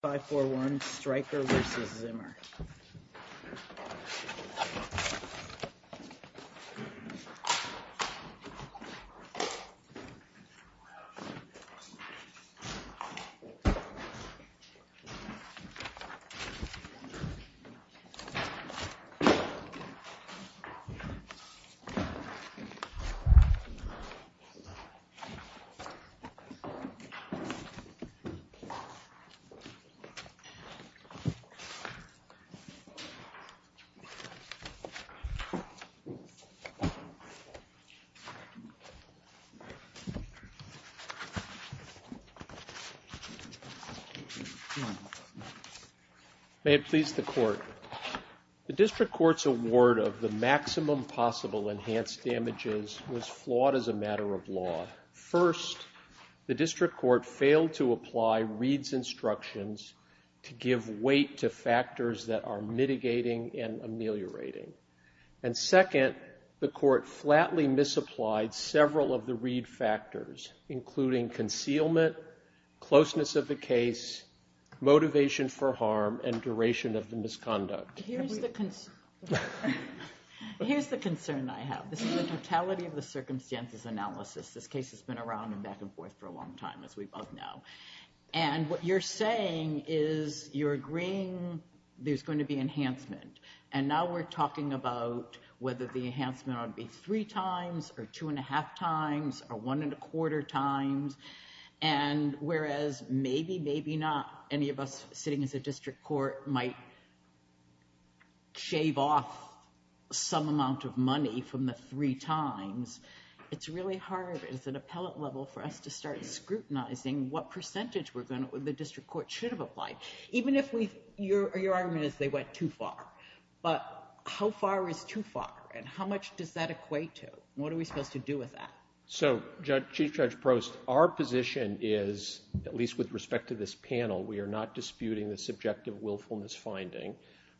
541 Stryker v. Zimmer May it please the Court, the District Court's award of the maximum possible enhanced damages was flawed as a matter of law. First, the District Court failed to apply Reed's instructions to give weight to factors that are mitigating and ameliorating. And second, the Court flatly misapplied several of the Reed factors, including concealment, closeness of the case, motivation for harm, and duration of the misconduct. Here's the concern I have. This is the totality of the circumstances analysis. This case has been around and back and forth for a long time, as we both know. And what you're saying is you're agreeing there's going to be enhancement. And now we're talking about whether the enhancement ought to be three times or two and a half times or one and a quarter times. And whereas maybe, maybe not any of us sitting as a District Court might shave off some amount of money from the three times, it's really hard as an appellate level for us to start scrutinizing what percentage the District Court should have applied, even if your argument is they went too far. But how far is too far? And how much does that equate to? And what are we supposed to do with that? So Chief Judge Prost, our position is, at least with respect to this panel, we are not disputing the subjective willfulness finding.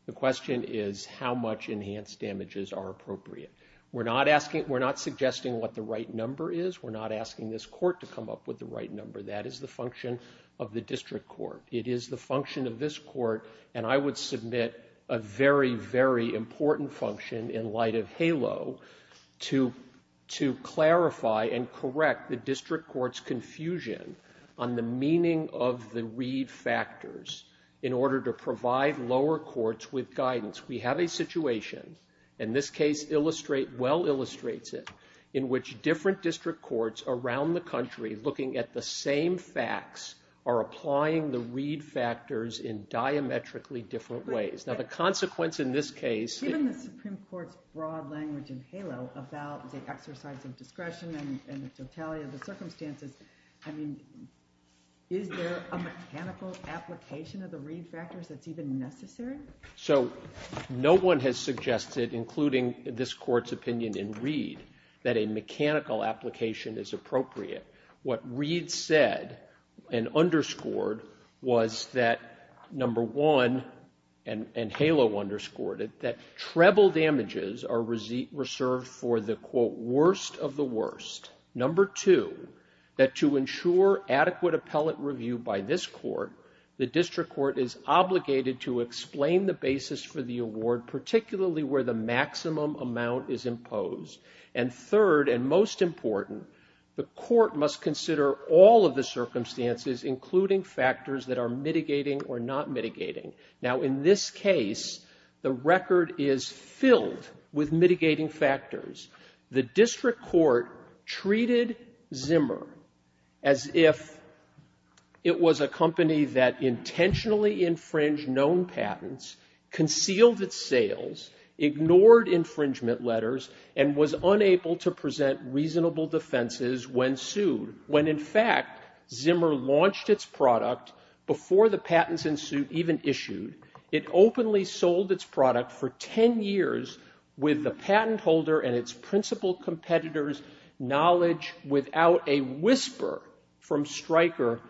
The question is how much enhanced damages are appropriate. We're not suggesting what the right number is. We're not asking this court to come up with the right number. That is the function of the District Court. It is the function of this court. And I would submit a very, very important function in the light of HALO to clarify and correct the District Court's confusion on the meaning of the Reed factors in order to provide lower courts with guidance. We have a situation, and this case well illustrates it, in which different District Courts around the country looking at the same facts are applying the Reed factors in diametrically different ways. Given the Supreme Court's broad language in HALO about the exercise of discretion and the totality of the circumstances, is there a mechanical application of the Reed factors that's even necessary? So no one has suggested, including this Court's opinion in Reed, that a mechanical application is appropriate. What Reed said and underscored was that, number one, and HALO underscored it, that treble damages are reserved for the, quote, worst of the worst. Number two, that to ensure adequate appellate review by this Court, the District Court is obligated to explain the basis for the award, particularly where the maximum amount is imposed. And third and most important, the Court must consider all of the circumstances, including factors that are mitigating or not mitigating. Now, in this case, the record is filled with mitigating factors. The District Court treated Zimmer as if it was a company that intentionally infringed known patents, concealed its sales, ignored infringement letters, and was unable to present reasonable defenses when sued. When, in fact, Zimmer launched its product before the patents in suit even issued, it openly sold its product for 10 years with the patent holder and its principal competitors' knowledge without a whisper from Stryker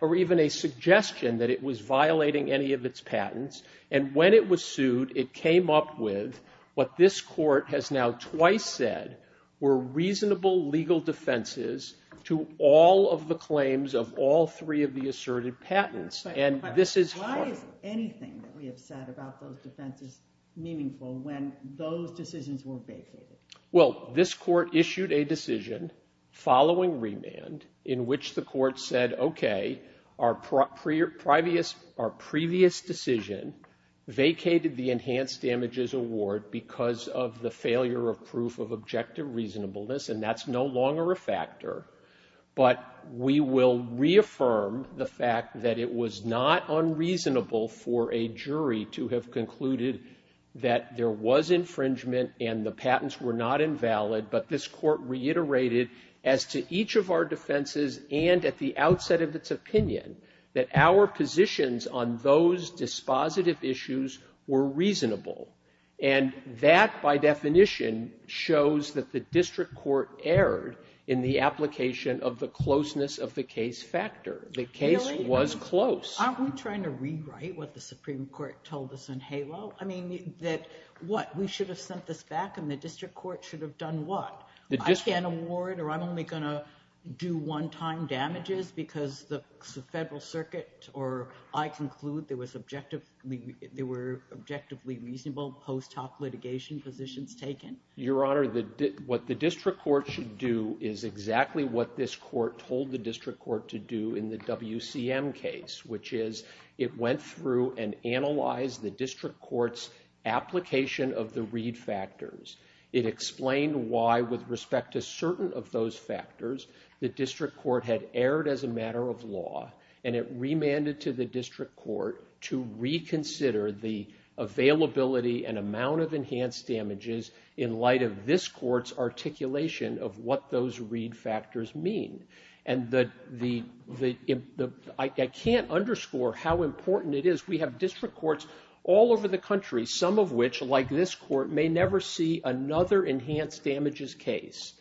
or even a suggestion that it was violating any of its patents. And when it was sued, it came up with what this Court has now twice said were reasonable legal defenses to all of the claims of all three of the asserted patents. And this is... Why is anything that we have said about those defenses meaningful when those decisions were vacated? Well, this Court issued a decision following remand in which the Court said, OK, our previous decision vacated the Enhanced Damages Award because of the failure of proof of objective reasonableness, and that's no longer a factor. But we will reaffirm the fact that it was not unreasonable for a jury to have concluded that there was infringement and the patents were not invalid. But this Court reiterated as to each of our defenses and at the outset of its opinion that our positions on those dispositive issues were reasonable. And that by definition shows that the District Court erred in the application of the closeness of the case factor. The case was close. Really? Aren't we trying to rewrite what the Supreme Court told us in HALO? I mean, that what? We should have sent this back and the District Court should have done what? I can't do one-time damages because the Federal Circuit or I conclude there were objectively reasonable post hoc litigation positions taken. Your Honor, what the District Court should do is exactly what this Court told the District Court to do in the WCM case, which is it went through and analyzed the District Court's application of the Reed factors. It explained why, with respect to certain of those factors, the District Court had erred as a matter of law and it remanded to the District Court to reconsider the availability and amount of enhanced damages in light of this Court's articulation of what those Reed factors mean. And I can't underscore how important it is. We have District Courts all over the country, some of which, like this Court, may never see another enhanced damages case.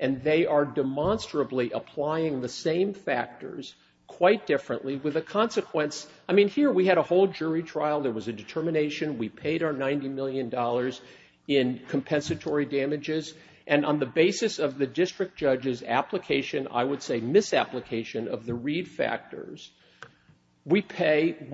And they are demonstrably applying the same factors quite differently with a consequence. I mean, here we had a whole jury trial. There was a determination. We paid our $90 million in compensatory damages. And on the basis of the District Judge's application, I would say misapplication, of the Reed factors, we have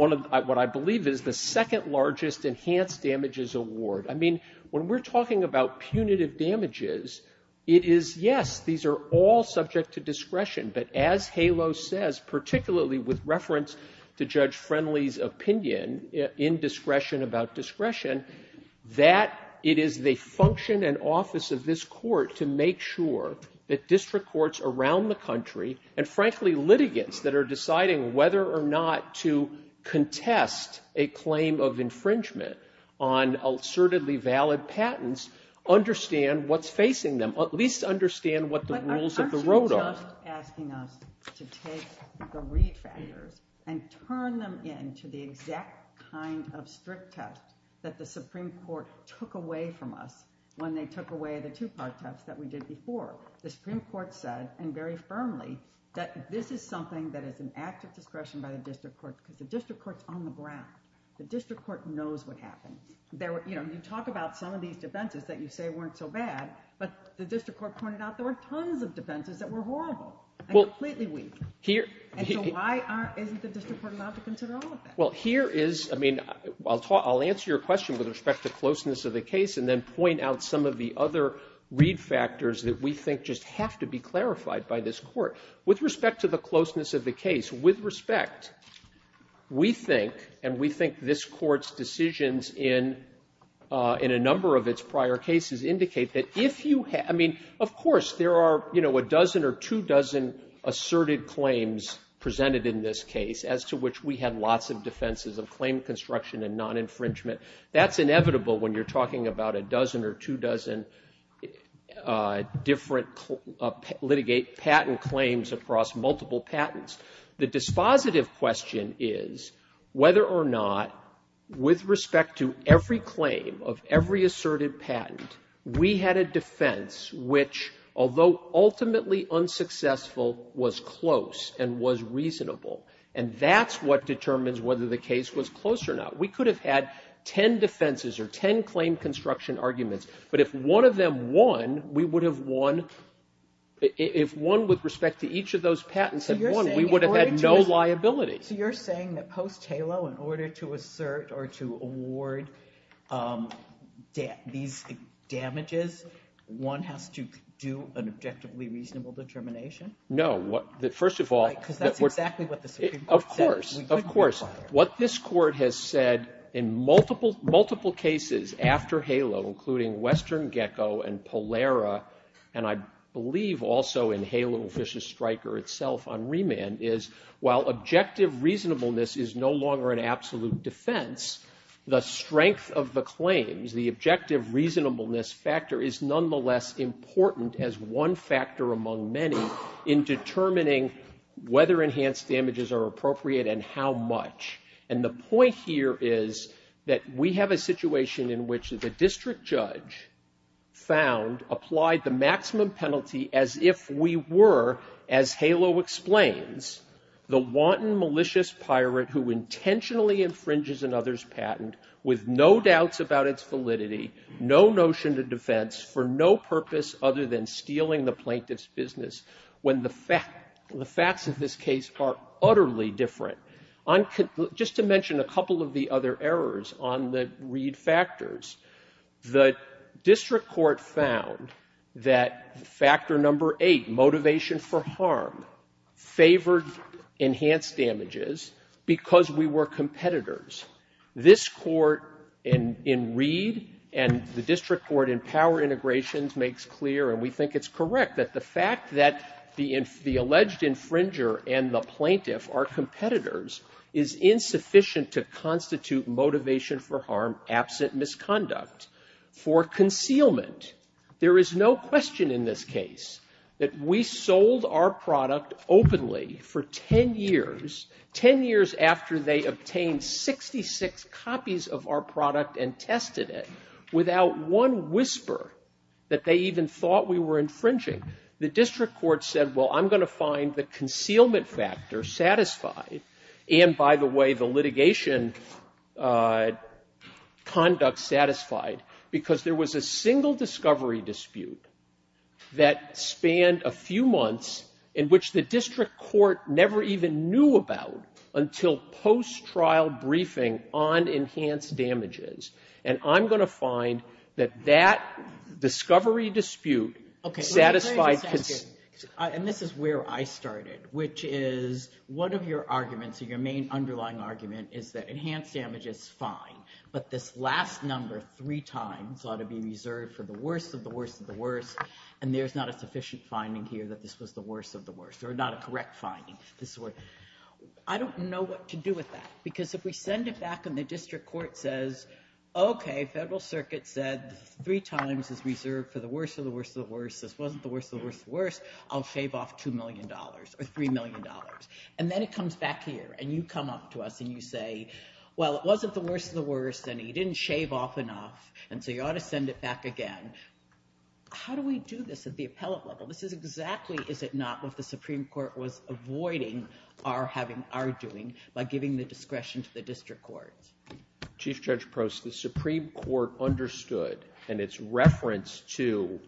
what I believe is the second largest enhanced damages award. I mean, when we're talking about punitive damages, it is, yes, these are all subject to discretion. But as HALO says, particularly with reference to Judge Friendly's opinion in discretion about discretion, that it is the function and office of this Court to make sure that District Courts around the country, and frankly, litigants that are deciding whether or not to contest a claim of infringement on assertedly valid patents, understand what's facing them, at least understand what the rules of the road are. But aren't you just asking us to take the Reed factors and turn them into the exact kind of strict test that the Supreme Court took away from us when they took away the discretion test that we did before? The Supreme Court said, and very firmly, that this is something that is an act of discretion by the District Court, because the District Court's on the ground. The District Court knows what happened. You talk about some of these defenses that you say weren't so bad, but the District Court pointed out there were tons of defenses that were horrible and completely weak. And so why isn't the District Court allowed to consider all of that? Well, here is, I mean, I'll answer your question with respect to closeness of the case and then point out some of the other Reed factors that we think just have to be clarified by this Court. With respect to the closeness of the case, with respect, we think, and we think this Court's decisions in a number of its prior cases indicate that if you have — I mean, of course, there are, you know, a dozen or two dozen asserted claims presented in this case as to which we had lots of defenses of claim construction and non-infringement. That's inevitable when you're talking about a dozen or two dozen different litigate patent claims across multiple patents. The dispositive question is whether or not, with respect to every claim of every asserted patent, we had a defense which, although ultimately unsuccessful, was close and was reasonable. And that's what determines whether the case was close or not. We could have had 10 defenses or 10 claim construction arguments, but if one of them won, we would have won — if one with respect to each of those patents had won, we would have had no liability. So you're saying that post-HALO, in order to assert or to award these damages, one has to do an objectively reasonable determination? No. First of all — Right, because that's exactly what the Supreme Court said. Of course. Of course. What this Court has said in multiple cases after HALO, including Western Gecko and Polera, and I believe also in HALO and Vicious Striker itself on remand, is while objective reasonableness is no longer an absolute defense, the strength of the claims, the objective reasonableness factor, is nonetheless important as one factor among many in determining whether enhanced damages are appropriate and how much. And the point here is that we have a situation in which the district judge found, applied the maximum penalty as if we were, as HALO explains, the wanton malicious pirate who intentionally infringes another's patent with no doubts about its validity, no notion to defense, for no purpose other than stealing the plaintiff's business, when the facts of this case are utterly different. Just to mention a couple of the other errors on the Reed factors, the district court found that factor number eight, motivation for harm, favored enhanced damages because we were competitors. This Court in Reed and the district court in Power Integrations makes clear, and we think it's correct, that the fact that the alleged infringer and the plaintiff are competitors is insufficient to constitute motivation for harm absent misconduct. For concealment, there is no question in this case that we sold our product openly for 10 years, 10 years after they obtained 66 copies of our product and tested it, without one whisper that they even thought we were infringing. The district court said, well, I'm going to find the concealment factor satisfied, and by the way, the litigation conduct satisfied, because there was a single discovery dispute that spanned a few months in which the district court never even knew about until post-trial briefing on enhanced damages, and I'm going to find that that discovery dispute satisfied concealment. And this is where I started, which is one of your arguments, your main underlying argument is that enhanced damage is fine, but this last number three times ought to be reserved for the worst of the worst of the worst, and there's not a sufficient finding here that this was the worst of the worst, or not a correct finding. I don't know what to do with that, because if we send it back and the district court says, okay, federal circuit said three times is reserved for the worst of the worst of the worst, this wasn't the worst of the worst of the worst, I'll shave off $2 million, or $3 million, and then it comes back here, and you come up to us and you say, well, it wasn't the worst of the worst, and you didn't shave off enough, and so you ought to send it back again. How do we do this at the appellate level? This is exactly, is it not, what the Supreme Court was avoiding our having, our doing, by giving the discretion to the district courts. Chief Judge Prost, the Supreme Court understood, and its reference to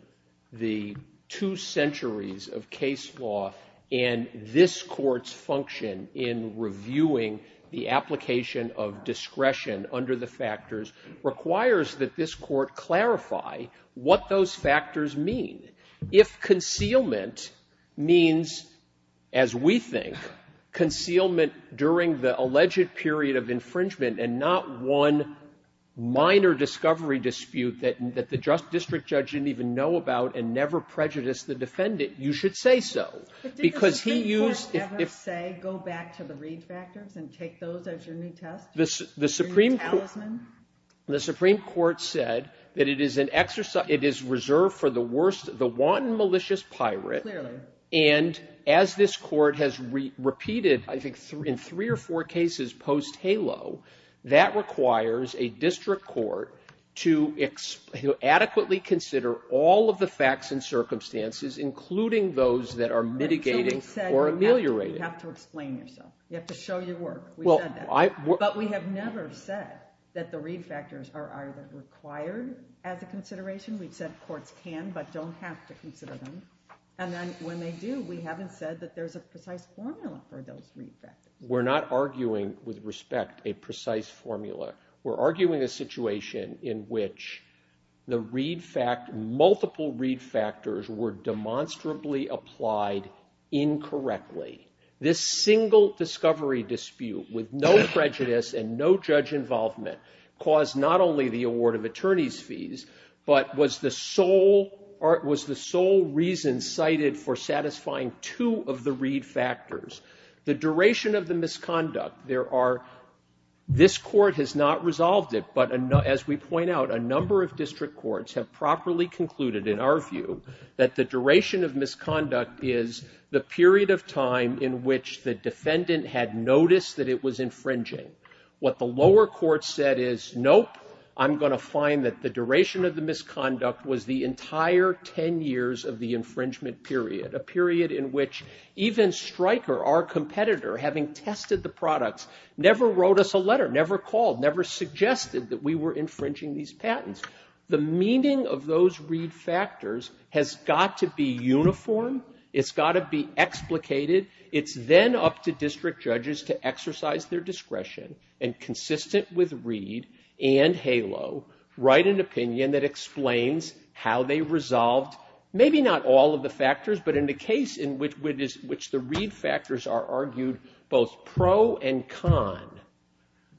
the two centuries of case law and this Court's function in reviewing the application of discretion under the factors requires that this Court clarify what those factors mean. If concealment means, as we think, concealment during the alleged period of infringement, and not one minor discovery dispute that the district judge didn't even know about and never prejudiced the defendant, you should say so, because he used the Supreme Court. The Supreme Court said that it is an exercise, it is reserved for the worst, the wanton, malicious pirate, and as this Court has repeated, I think, in three or four cases post-HALO, that requires a district court to adequately consider all of the facts and circumstances, including those that are mitigating or ameliorating. You have to explain yourself. You have to show your work. But we have never said that the read factors are either required as a consideration. We've said courts can, but don't have to consider them. And then when they do, we haven't said that there's a precise formula for those read factors. We're not arguing, with respect, a precise formula. We're arguing a situation in which the read fact, multiple read factors were demonstrably applied incorrectly. This single discovery dispute, with no prejudice and no judge involvement, caused not only the award of attorney's fees, but was the sole reason cited for satisfying two of the read factors. The duration of the misconduct, there are, this Court has not resolved it, but as we point out, a number of district courts have properly concluded, in our view, that the duration of misconduct is the period of time in which the defendant had noticed that it was infringing. What the lower court said is, nope, I'm going to find that the duration of the misconduct was the entire ten years of the infringement period, a period in which even Stryker, our competitor, having tested the products, never wrote us a letter, never called, never suggested that we were infringing these patents. The meaning of those read factors has got to be uniform. It's got to be explicated. It's then up to district judges to exercise their discretion and consistent with read and HALO, write an opinion that explains how they resolved, maybe not all of the factors, but in the case in which the read factors are argued both pro and con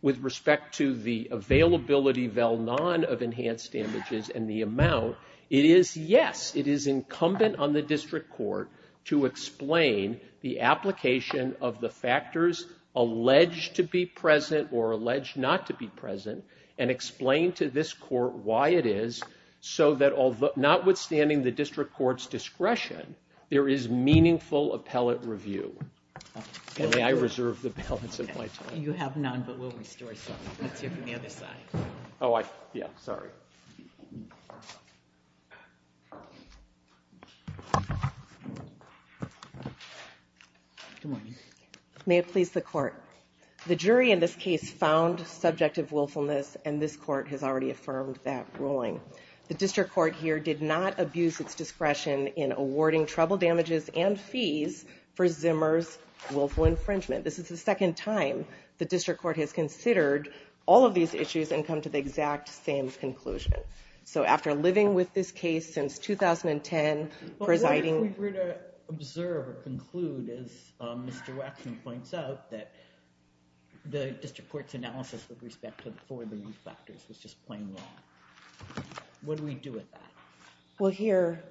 with respect to the availability, vel non, of enhanced damages and the amount, it is, yes, it is incumbent on the district court to explain the application of the factors alleged to be present or alleged not to be present and explain to this court why it is so that, notwithstanding the district court's discretion, there is meaningful appellate review. May I reserve the appellates of my time? May it please the court. The jury in this case found subjective willfulness and this court has already affirmed that ruling. The district court here did not abuse its discretion in awarding trouble damages and fees for Zimmer's willful infringement. This is the second time the district court has considered all of these issues and come to the exact same conclusion. So after living with this case since 2010, presiding... What if we were to observe or conclude, as Mr. Waxman points out, that the district court's analysis with respect to the four read factors was just plain wrong? What do we do with that? Well here,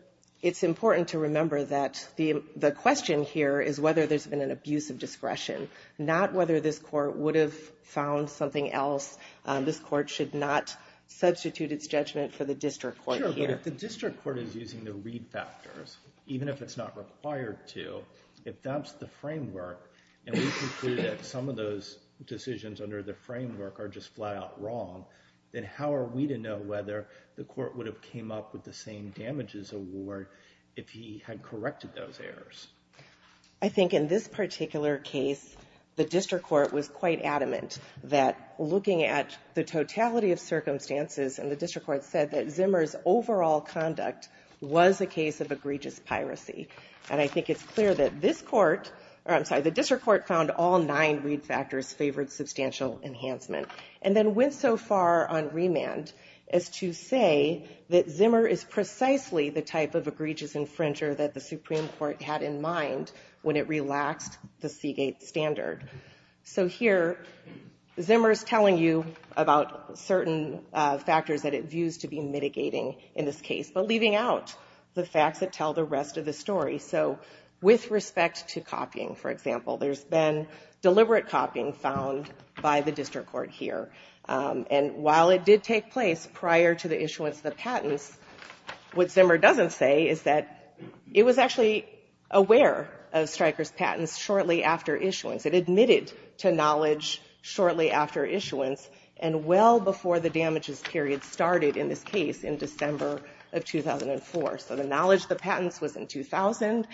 it's important to remember that the question here is whether there's been an abuse of discretion, not whether this court would have found something else. This court should not substitute its judgment for the district court here. Sure, but if the district court is using the read factors, even if it's not required to, if that's the framework and we conclude that some of those decisions under the framework are just flat out wrong, then how are we to know whether the court would have came up with the same damages award if he had corrected those errors? I think in this particular case, the district court was quite adamant that looking at the totality of circumstances, and the district court said that Zimmer's overall conduct was a case of egregious piracy. And I think it's clear that this court, or I'm sorry, the district court found all nine read factors favored substantial enhancement, and then went so far on remand as to say that Zimmer is precisely the type of egregious infringer that the Supreme Court had in mind when it relaxed the Seagate standard. So here, Zimmer's telling you about certain factors that it views to be mitigating in this case, but leaving out the facts that tell the rest of the story. So with respect to copying, for example, there's been deliberate copying found by the district court here. And while it did take place prior to the issuance of the patents, what Zimmer doesn't say is that it was actually aware of Stryker's patents shortly after issuance. It admitted to knowledge shortly after issuance, and well before the damages period started in this case in December of 2004. So the knowledge of the patents was in 2000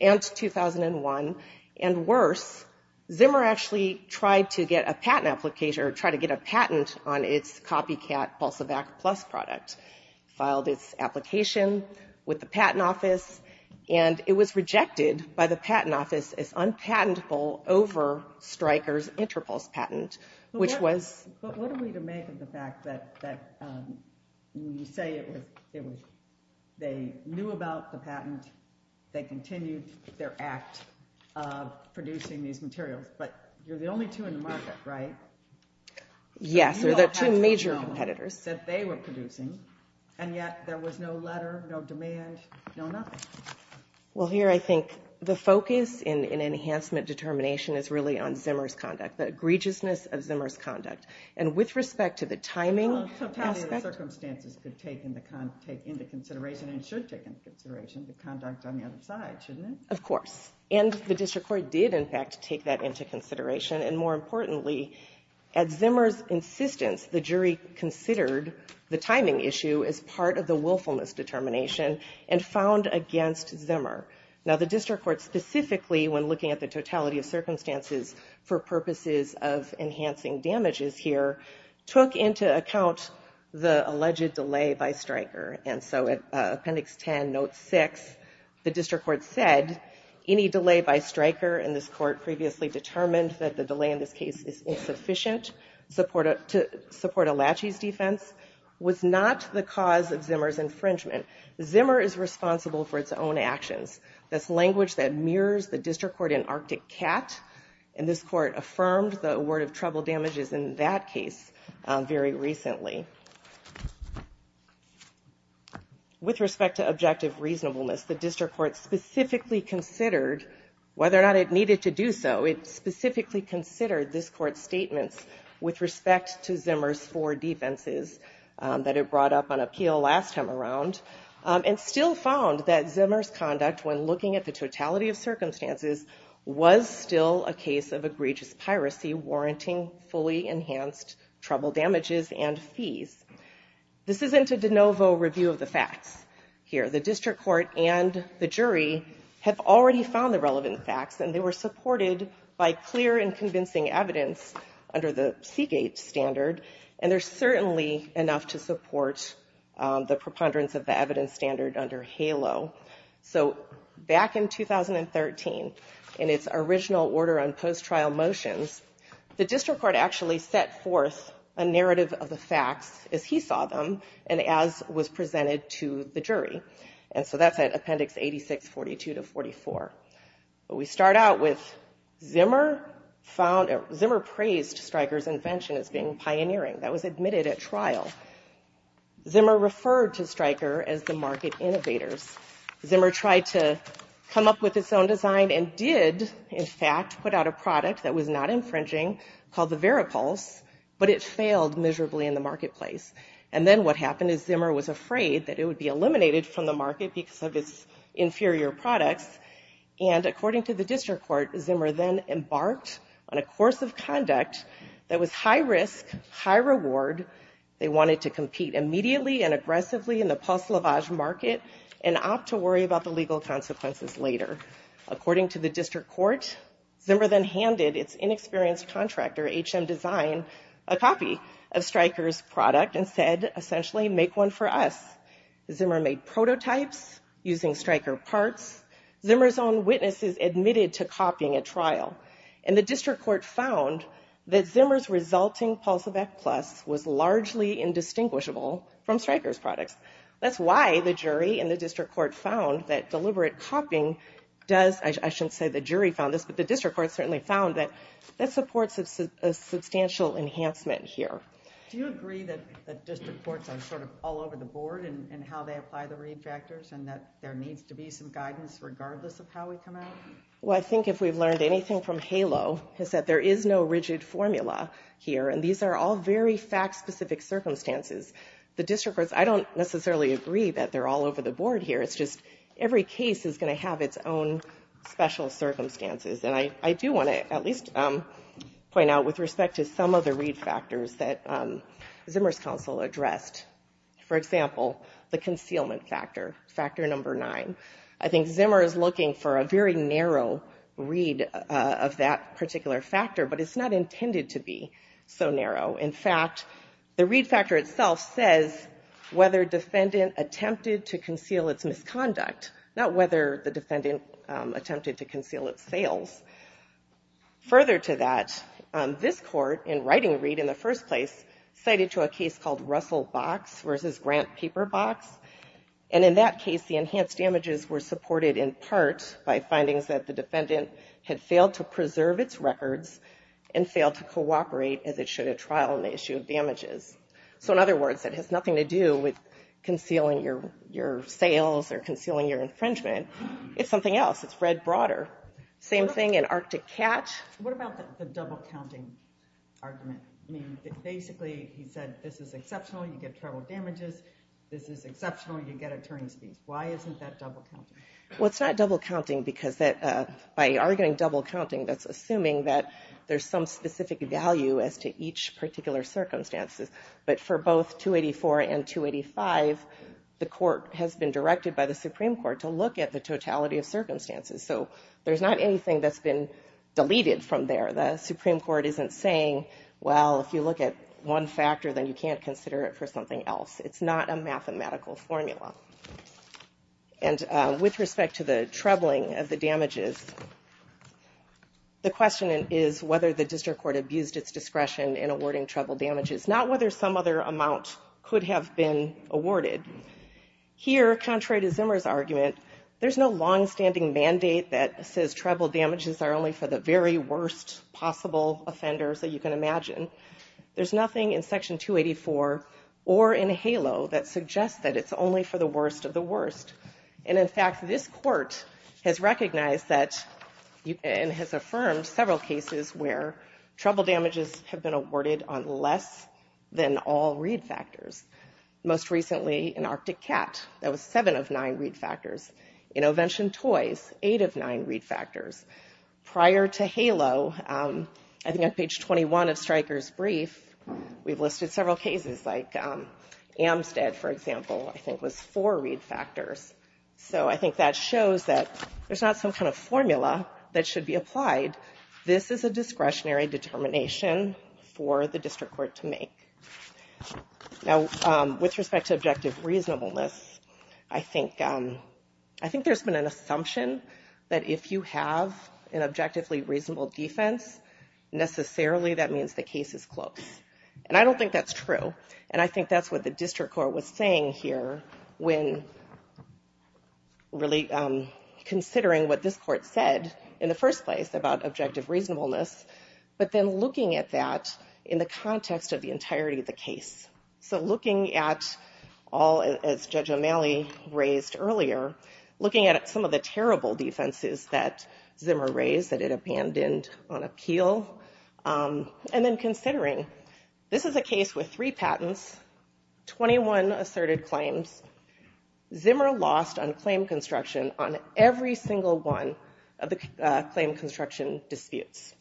and 2001, and worse, Zimmer actually tried to get a patent application, or tried to get a patent on its copycat Pulsivac Plus product. Filed its application with the Patent Office, and it was rejected by the Patent Office as unpatentable over Stryker's Interpulse patent, which was- But what are we to make of the fact that when you say it was, they knew about the patent, they continued their act of producing these materials, but you're the only two in the market, right? Yes, they're the two major competitors. That they were producing, and yet there was no letter, no demand, no nothing. Well here I think the focus in enhancement determination is really on Zimmer's conduct, the egregiousness of Zimmer's conduct. And with respect to the timing aspect- Well, some timing and circumstances could take into consideration, and should take into consideration the other side, shouldn't it? Of course. And the District Court did in fact take that into consideration, and more importantly, at Zimmer's insistence, the jury considered the timing issue as part of the willfulness determination and found against Zimmer. Now the District Court specifically, when looking at the totality of circumstances for purposes of enhancing damages here, took into account the alleged delay by Stryker. And so at Appendix 10, Note 6, the District Court said, any delay by Stryker, and this Court previously determined that the delay in this case is insufficient to support Alachi's defense, was not the cause of Zimmer's infringement. Zimmer is responsible for its own actions. That's language that mirrors the District Court in Arctic Cat, and this Court affirmed the word of trouble damages in that case very recently. With respect to objective reasonableness, the District Court specifically considered whether or not it needed to do so. It specifically considered this Court's statements with respect to Zimmer's four defenses that it brought up on appeal last time around, and still found that Zimmer's conduct, when looking at the totality of circumstances, was still a case of egregious piracy warranting fully enhanced trouble damages and fees. This isn't a de novo review of the facts here. The District Court and the jury have already found the relevant facts, and they were supported by clear and convincing evidence under the Seagate standard, and there's certainly enough to support the preponderance of the evidence standard under HALO. So back in 2013, in its original order on post-trial motions, the District Court actually set forth a narrative of the facts as he saw them, and as was presented to the jury. And so that's at Appendix 86, 42 to 44. We start out with Zimmer found, Zimmer praised Stryker's invention as being pioneering. That was admitted at trial. Zimmer referred to Stryker as the market innovators. Zimmer tried to come up with its own design and did, in fact, put out a product that was not infringing called the Veripulse, but it failed miserably in the marketplace. And then what happened is Zimmer was afraid that it would be eliminated from the market because of its inferior products, and according to the District Court, Zimmer then embarked on a course of conduct that was high risk, high reward. They wanted to compete immediately and aggressively in the pulse lavage market and opt to worry about the legal consequences later. According to the District Court, Zimmer then handed its inexperienced contractor, HM Design, a copy of Stryker's product and said, essentially, make one for us. Zimmer made prototypes using Stryker parts. Zimmer's own witnesses admitted to copying at trial, and the District Court found that Zimmer's resulting pulse of F plus was largely indistinguishable from Stryker's products. That's why the jury and the District Court found that deliberate copying does, I shouldn't say the jury found this, but the District Court certainly found that that supports a substantial enhancement here. Do you agree that District Courts are sort of all over the board in how they apply the read factors and that there needs to be some guidance regardless of how we come out? Well, I think if we've learned anything from HALO, is that there is no rigid formula here, and these are all very fact-specific circumstances. The District Courts, I don't necessarily agree that they're all over the board here. It's just every case is going to have its own special circumstances. And I do want to at least point out with respect to some of the read factors that Zimmer's counsel addressed. For example, the concealment factor, factor number nine. I think Zimmer is looking for a very narrow read of that particular factor, but it's not intended to be so narrow. In fact, the read factor itself says whether defendant attempted to conceal its misconduct, not whether the defendant attempted to conceal its sales. Further to that, this Court, in writing a read in the first place, cited to a case called damages were supported in part by findings that the defendant had failed to preserve its records and failed to cooperate as it should at trial on the issue of damages. So in other words, it has nothing to do with concealing your sales or concealing your infringement. It's something else. It's read broader. Same thing in Arctic Catch. What about the double-counting argument? I mean, basically, he said this is exceptional. You get travel damages. This is exceptional. You get attorney's fees. Why isn't that double-counting? Well, it's not double-counting because by arguing double-counting, that's assuming that there's some specific value as to each particular circumstances. But for both 284 and 285, the court has been directed by the Supreme Court to look at the totality of circumstances. So there's not anything that's been deleted from there. The Supreme Court isn't saying, well, if you look at one factor, then you can't consider it for something else. It's not a mathematical formula. And with respect to the troubling of the damages, the question is whether the district court abused its discretion in awarding travel damages, not whether some other amount could have been awarded. Here, contrary to Zimmer's argument, there's no long-standing mandate that says travel damages are only for the very worst possible offenders that you can imagine. There's nothing in Section 284 or in HALO that suggests that it's only for the worst of the worst. And in fact, this court has recognized that and has affirmed several cases where travel damages have been awarded on less than all read factors. Most recently in Arctic Cat, that was seven of nine read factors. In Ovention Toys, eight of nine read factors. Prior to HALO, I think on page 21 of Stryker's brief, we've listed several cases like Amstead, for example, I think was four read factors. So I think that shows that there's not some kind of formula that should be applied. This is a discretionary determination for the district court to make. Now, with respect to objective reasonableness, I think there's been an assumption that if you have an objectively reasonable defense, necessarily that means the case is close. And I don't think that's true. And I think that's what the district court was saying here when really considering what this court said in the first place about objective reasonableness, but then looking at that in the context of the entirety of the case. So this is a case with three patents, 21 asserted claims. Zimmer lost on claim construction on every single one of the claim construction disputes.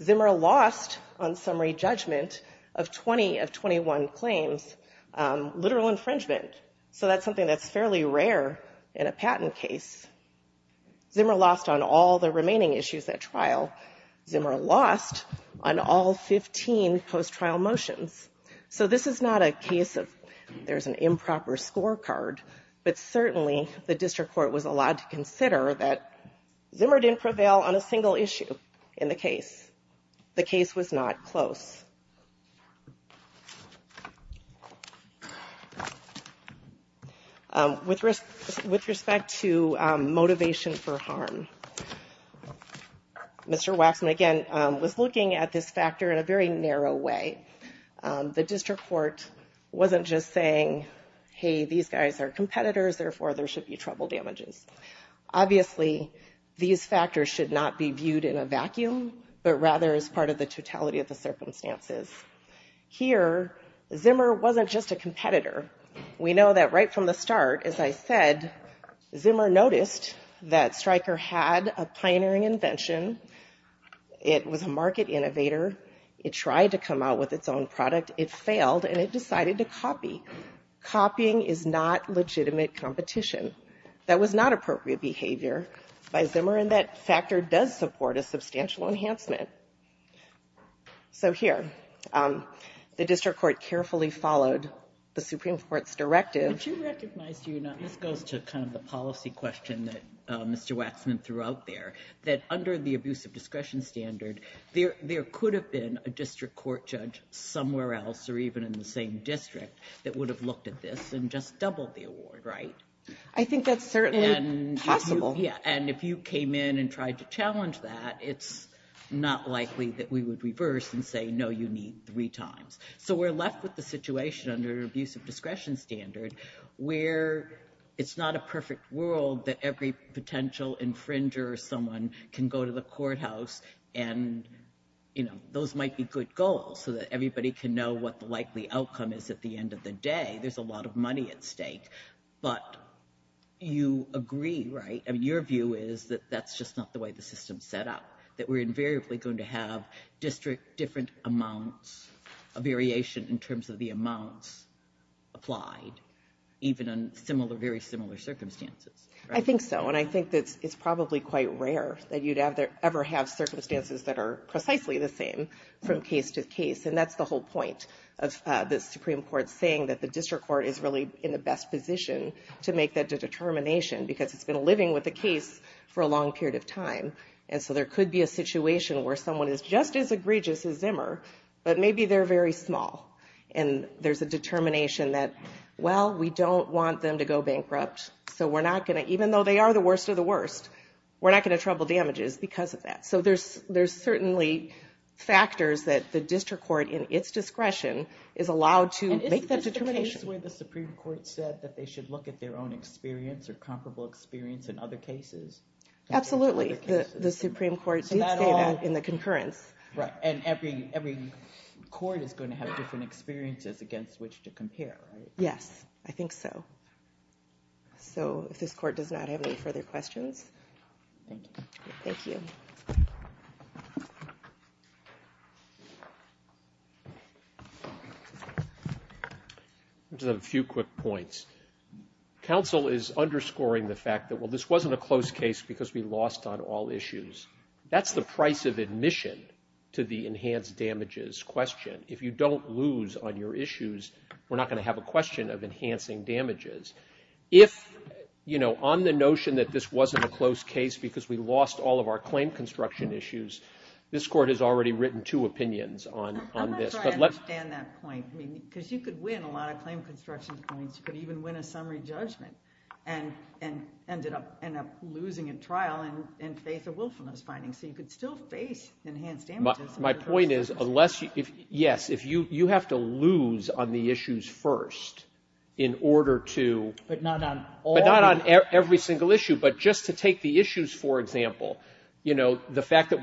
Zimmer lost on summary judgment of 20 of 21 claims, literal infringement. So that's something that's fairly rare in a patent case. Zimmer lost on all the remaining issues at trial. Zimmer lost on all 15 post-trial motions. So this is not a case of there's an improper scorecard, but certainly the district court was allowed to consider that Zimmer didn't prevail on a single issue in the case. The case was not close. With respect to motivation for harm, Mr. Waxman, again, was looking at this factor in a very narrow way. The district court wasn't just saying, hey, these guys are competitors, therefore there should be trouble damages. Obviously, these factors should not be viewed in a vacuum, but rather as part of the totality of the circumstances. Here, Zimmer wasn't just a competitor. We know that right from the start, as I said, Zimmer noticed that Stryker had a pioneering invention. It was a market innovator. It tried to come out with its own product. It failed, and it decided to copy. Copying is not legitimate competition. That was not appropriate behavior by Zimmer, and that factor does support a substantial enhancement. So here, the district court carefully followed the Supreme Court's directive. Would you recognize, this goes to kind of the policy question that Mr. Waxman threw out there, that under the abuse of discretion standard, there could have been a district court judge somewhere else or even in the same district that would have looked at this and just doubled the award, right? I think that's certainly possible. And if you came in and tried to challenge that, it's not likely that we would reverse and say, no, you need three times. So we're left with the situation under the abuse of discretion standard where it's not a perfect world that every potential infringer or someone can go to the courthouse and those might be good goals so that everybody can know what the likely outcome is at the money at stake. But you agree, right? I mean, your view is that that's just not the way the system's set up, that we're invariably going to have district different amounts of variation in terms of the amounts applied, even in similar, very similar circumstances. I think so. And I think that it's probably quite rare that you'd ever have circumstances that are precisely the same from case to case. And that's the whole point of the Supreme Court saying that the district court is really in the best position to make that determination because it's been living with the case for a long period of time. And so there could be a situation where someone is just as egregious as Zimmer, but maybe they're very small and there's a determination that, well, we don't want them to go bankrupt. So we're not going to, even though they are the worst of the worst, we're not going to trouble damages because of that. So there's certainly factors that the district court in its discretion is allowed to make that determination. And isn't this the case where the Supreme Court said that they should look at their own experience or comparable experience in other cases? Absolutely. The Supreme Court did say that in the concurrence. And every court is going to have different experiences against which to compare, right? Yes, I think so. So if this court does not have any further questions... Just a few quick points. Counsel is underscoring the fact that, well, this wasn't a close case because we lost on all issues. That's the price of admission to the enhanced damages question. If you don't lose on your issues, we're not going to have a question of enhancing damages. If, you know, on the notion that this wasn't a close case because we lost all of our claim construction issues, this court has already written two opinions on this. I don't understand that point. Because you could win a lot of claim construction points. You could even win a summary judgment and end up losing a trial in faith of willfulness findings. So you could still face enhanced damages. My point is, yes, you have to lose on the issues first in order to... But not on all... But not on every single issue. But just to take the issues, for example, you know, the issue that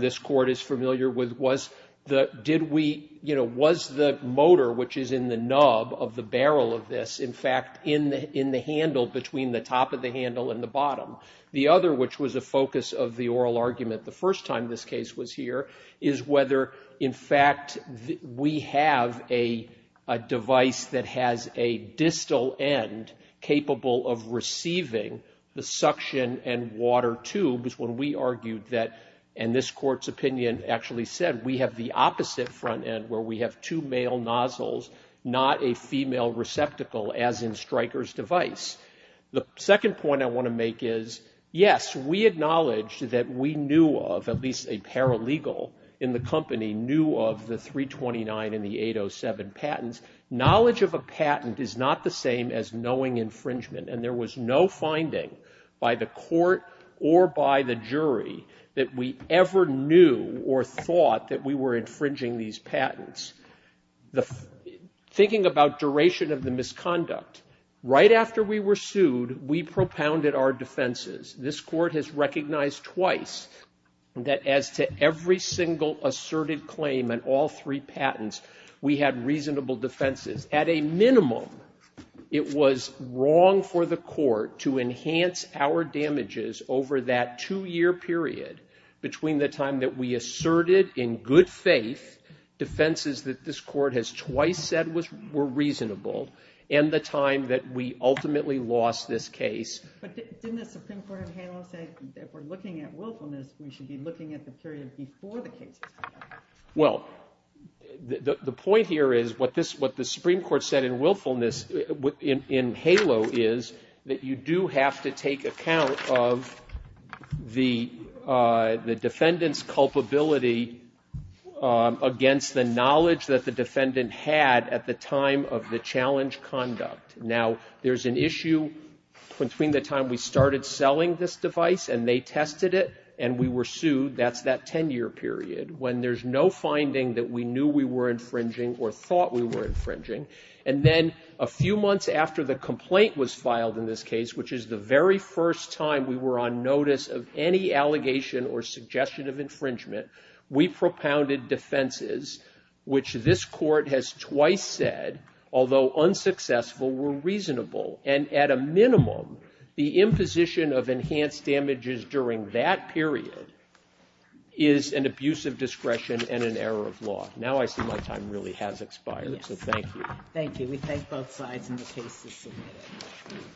this court is familiar with was, did we, you know, was the motor, which is in the nub of the barrel of this, in fact, in the handle between the top of the handle and the bottom? The other, which was a focus of the oral argument the first time this case was here, is whether, in fact, we have a device that has a distal end capable of receiving the suction and water tubes when we argued that, and this court's opinion actually said, we have the opposite front end where we have two male nozzles, not a female receptacle, as in Stryker's device. The second point I want to make is, yes, we acknowledge that we knew of, at least a paralegal in the company, knew of the 329 and the 807 patents. Knowledge of a patent is not the finding by the court or by the jury that we ever knew or thought that we were infringing these patents. Thinking about duration of the misconduct, right after we were sued, we propounded our defenses. This court has recognized twice that as to every single asserted claim on all three patents, we had reasonable defenses. At a minimum, it was wrong for the court to enhance our damages over that two-year period between the time that we asserted in good faith defenses that this court has twice said were reasonable and the time that we ultimately lost this case. But didn't the Supreme Court of HALO say, if we're looking at willfulness, we should be looking at the period before the case was filed? Well, the point here is, what the Supreme Court said in willfulness, in HALO, is that you do have to take account of the defendant's culpability against the knowledge that the defendant had at the time of the challenge conduct. Now, there's an issue between the time we started selling this device and they tested it and we were sued. That's that ten-year period when there's no finding that we knew we were infringing or thought we were infringing. And then a few months after the complaint was filed in this case, which is the very first time we were on notice of any allegation or suggestion of infringement, we propounded defenses which this court has twice said, although unsuccessful, were reasonable. And at a minimum, the imposition of enhanced damages during that period is an abuse of discretion and an error of law. Now I see my time really has expired, so thank you. Thank you. We thank both sides and the case is submitted.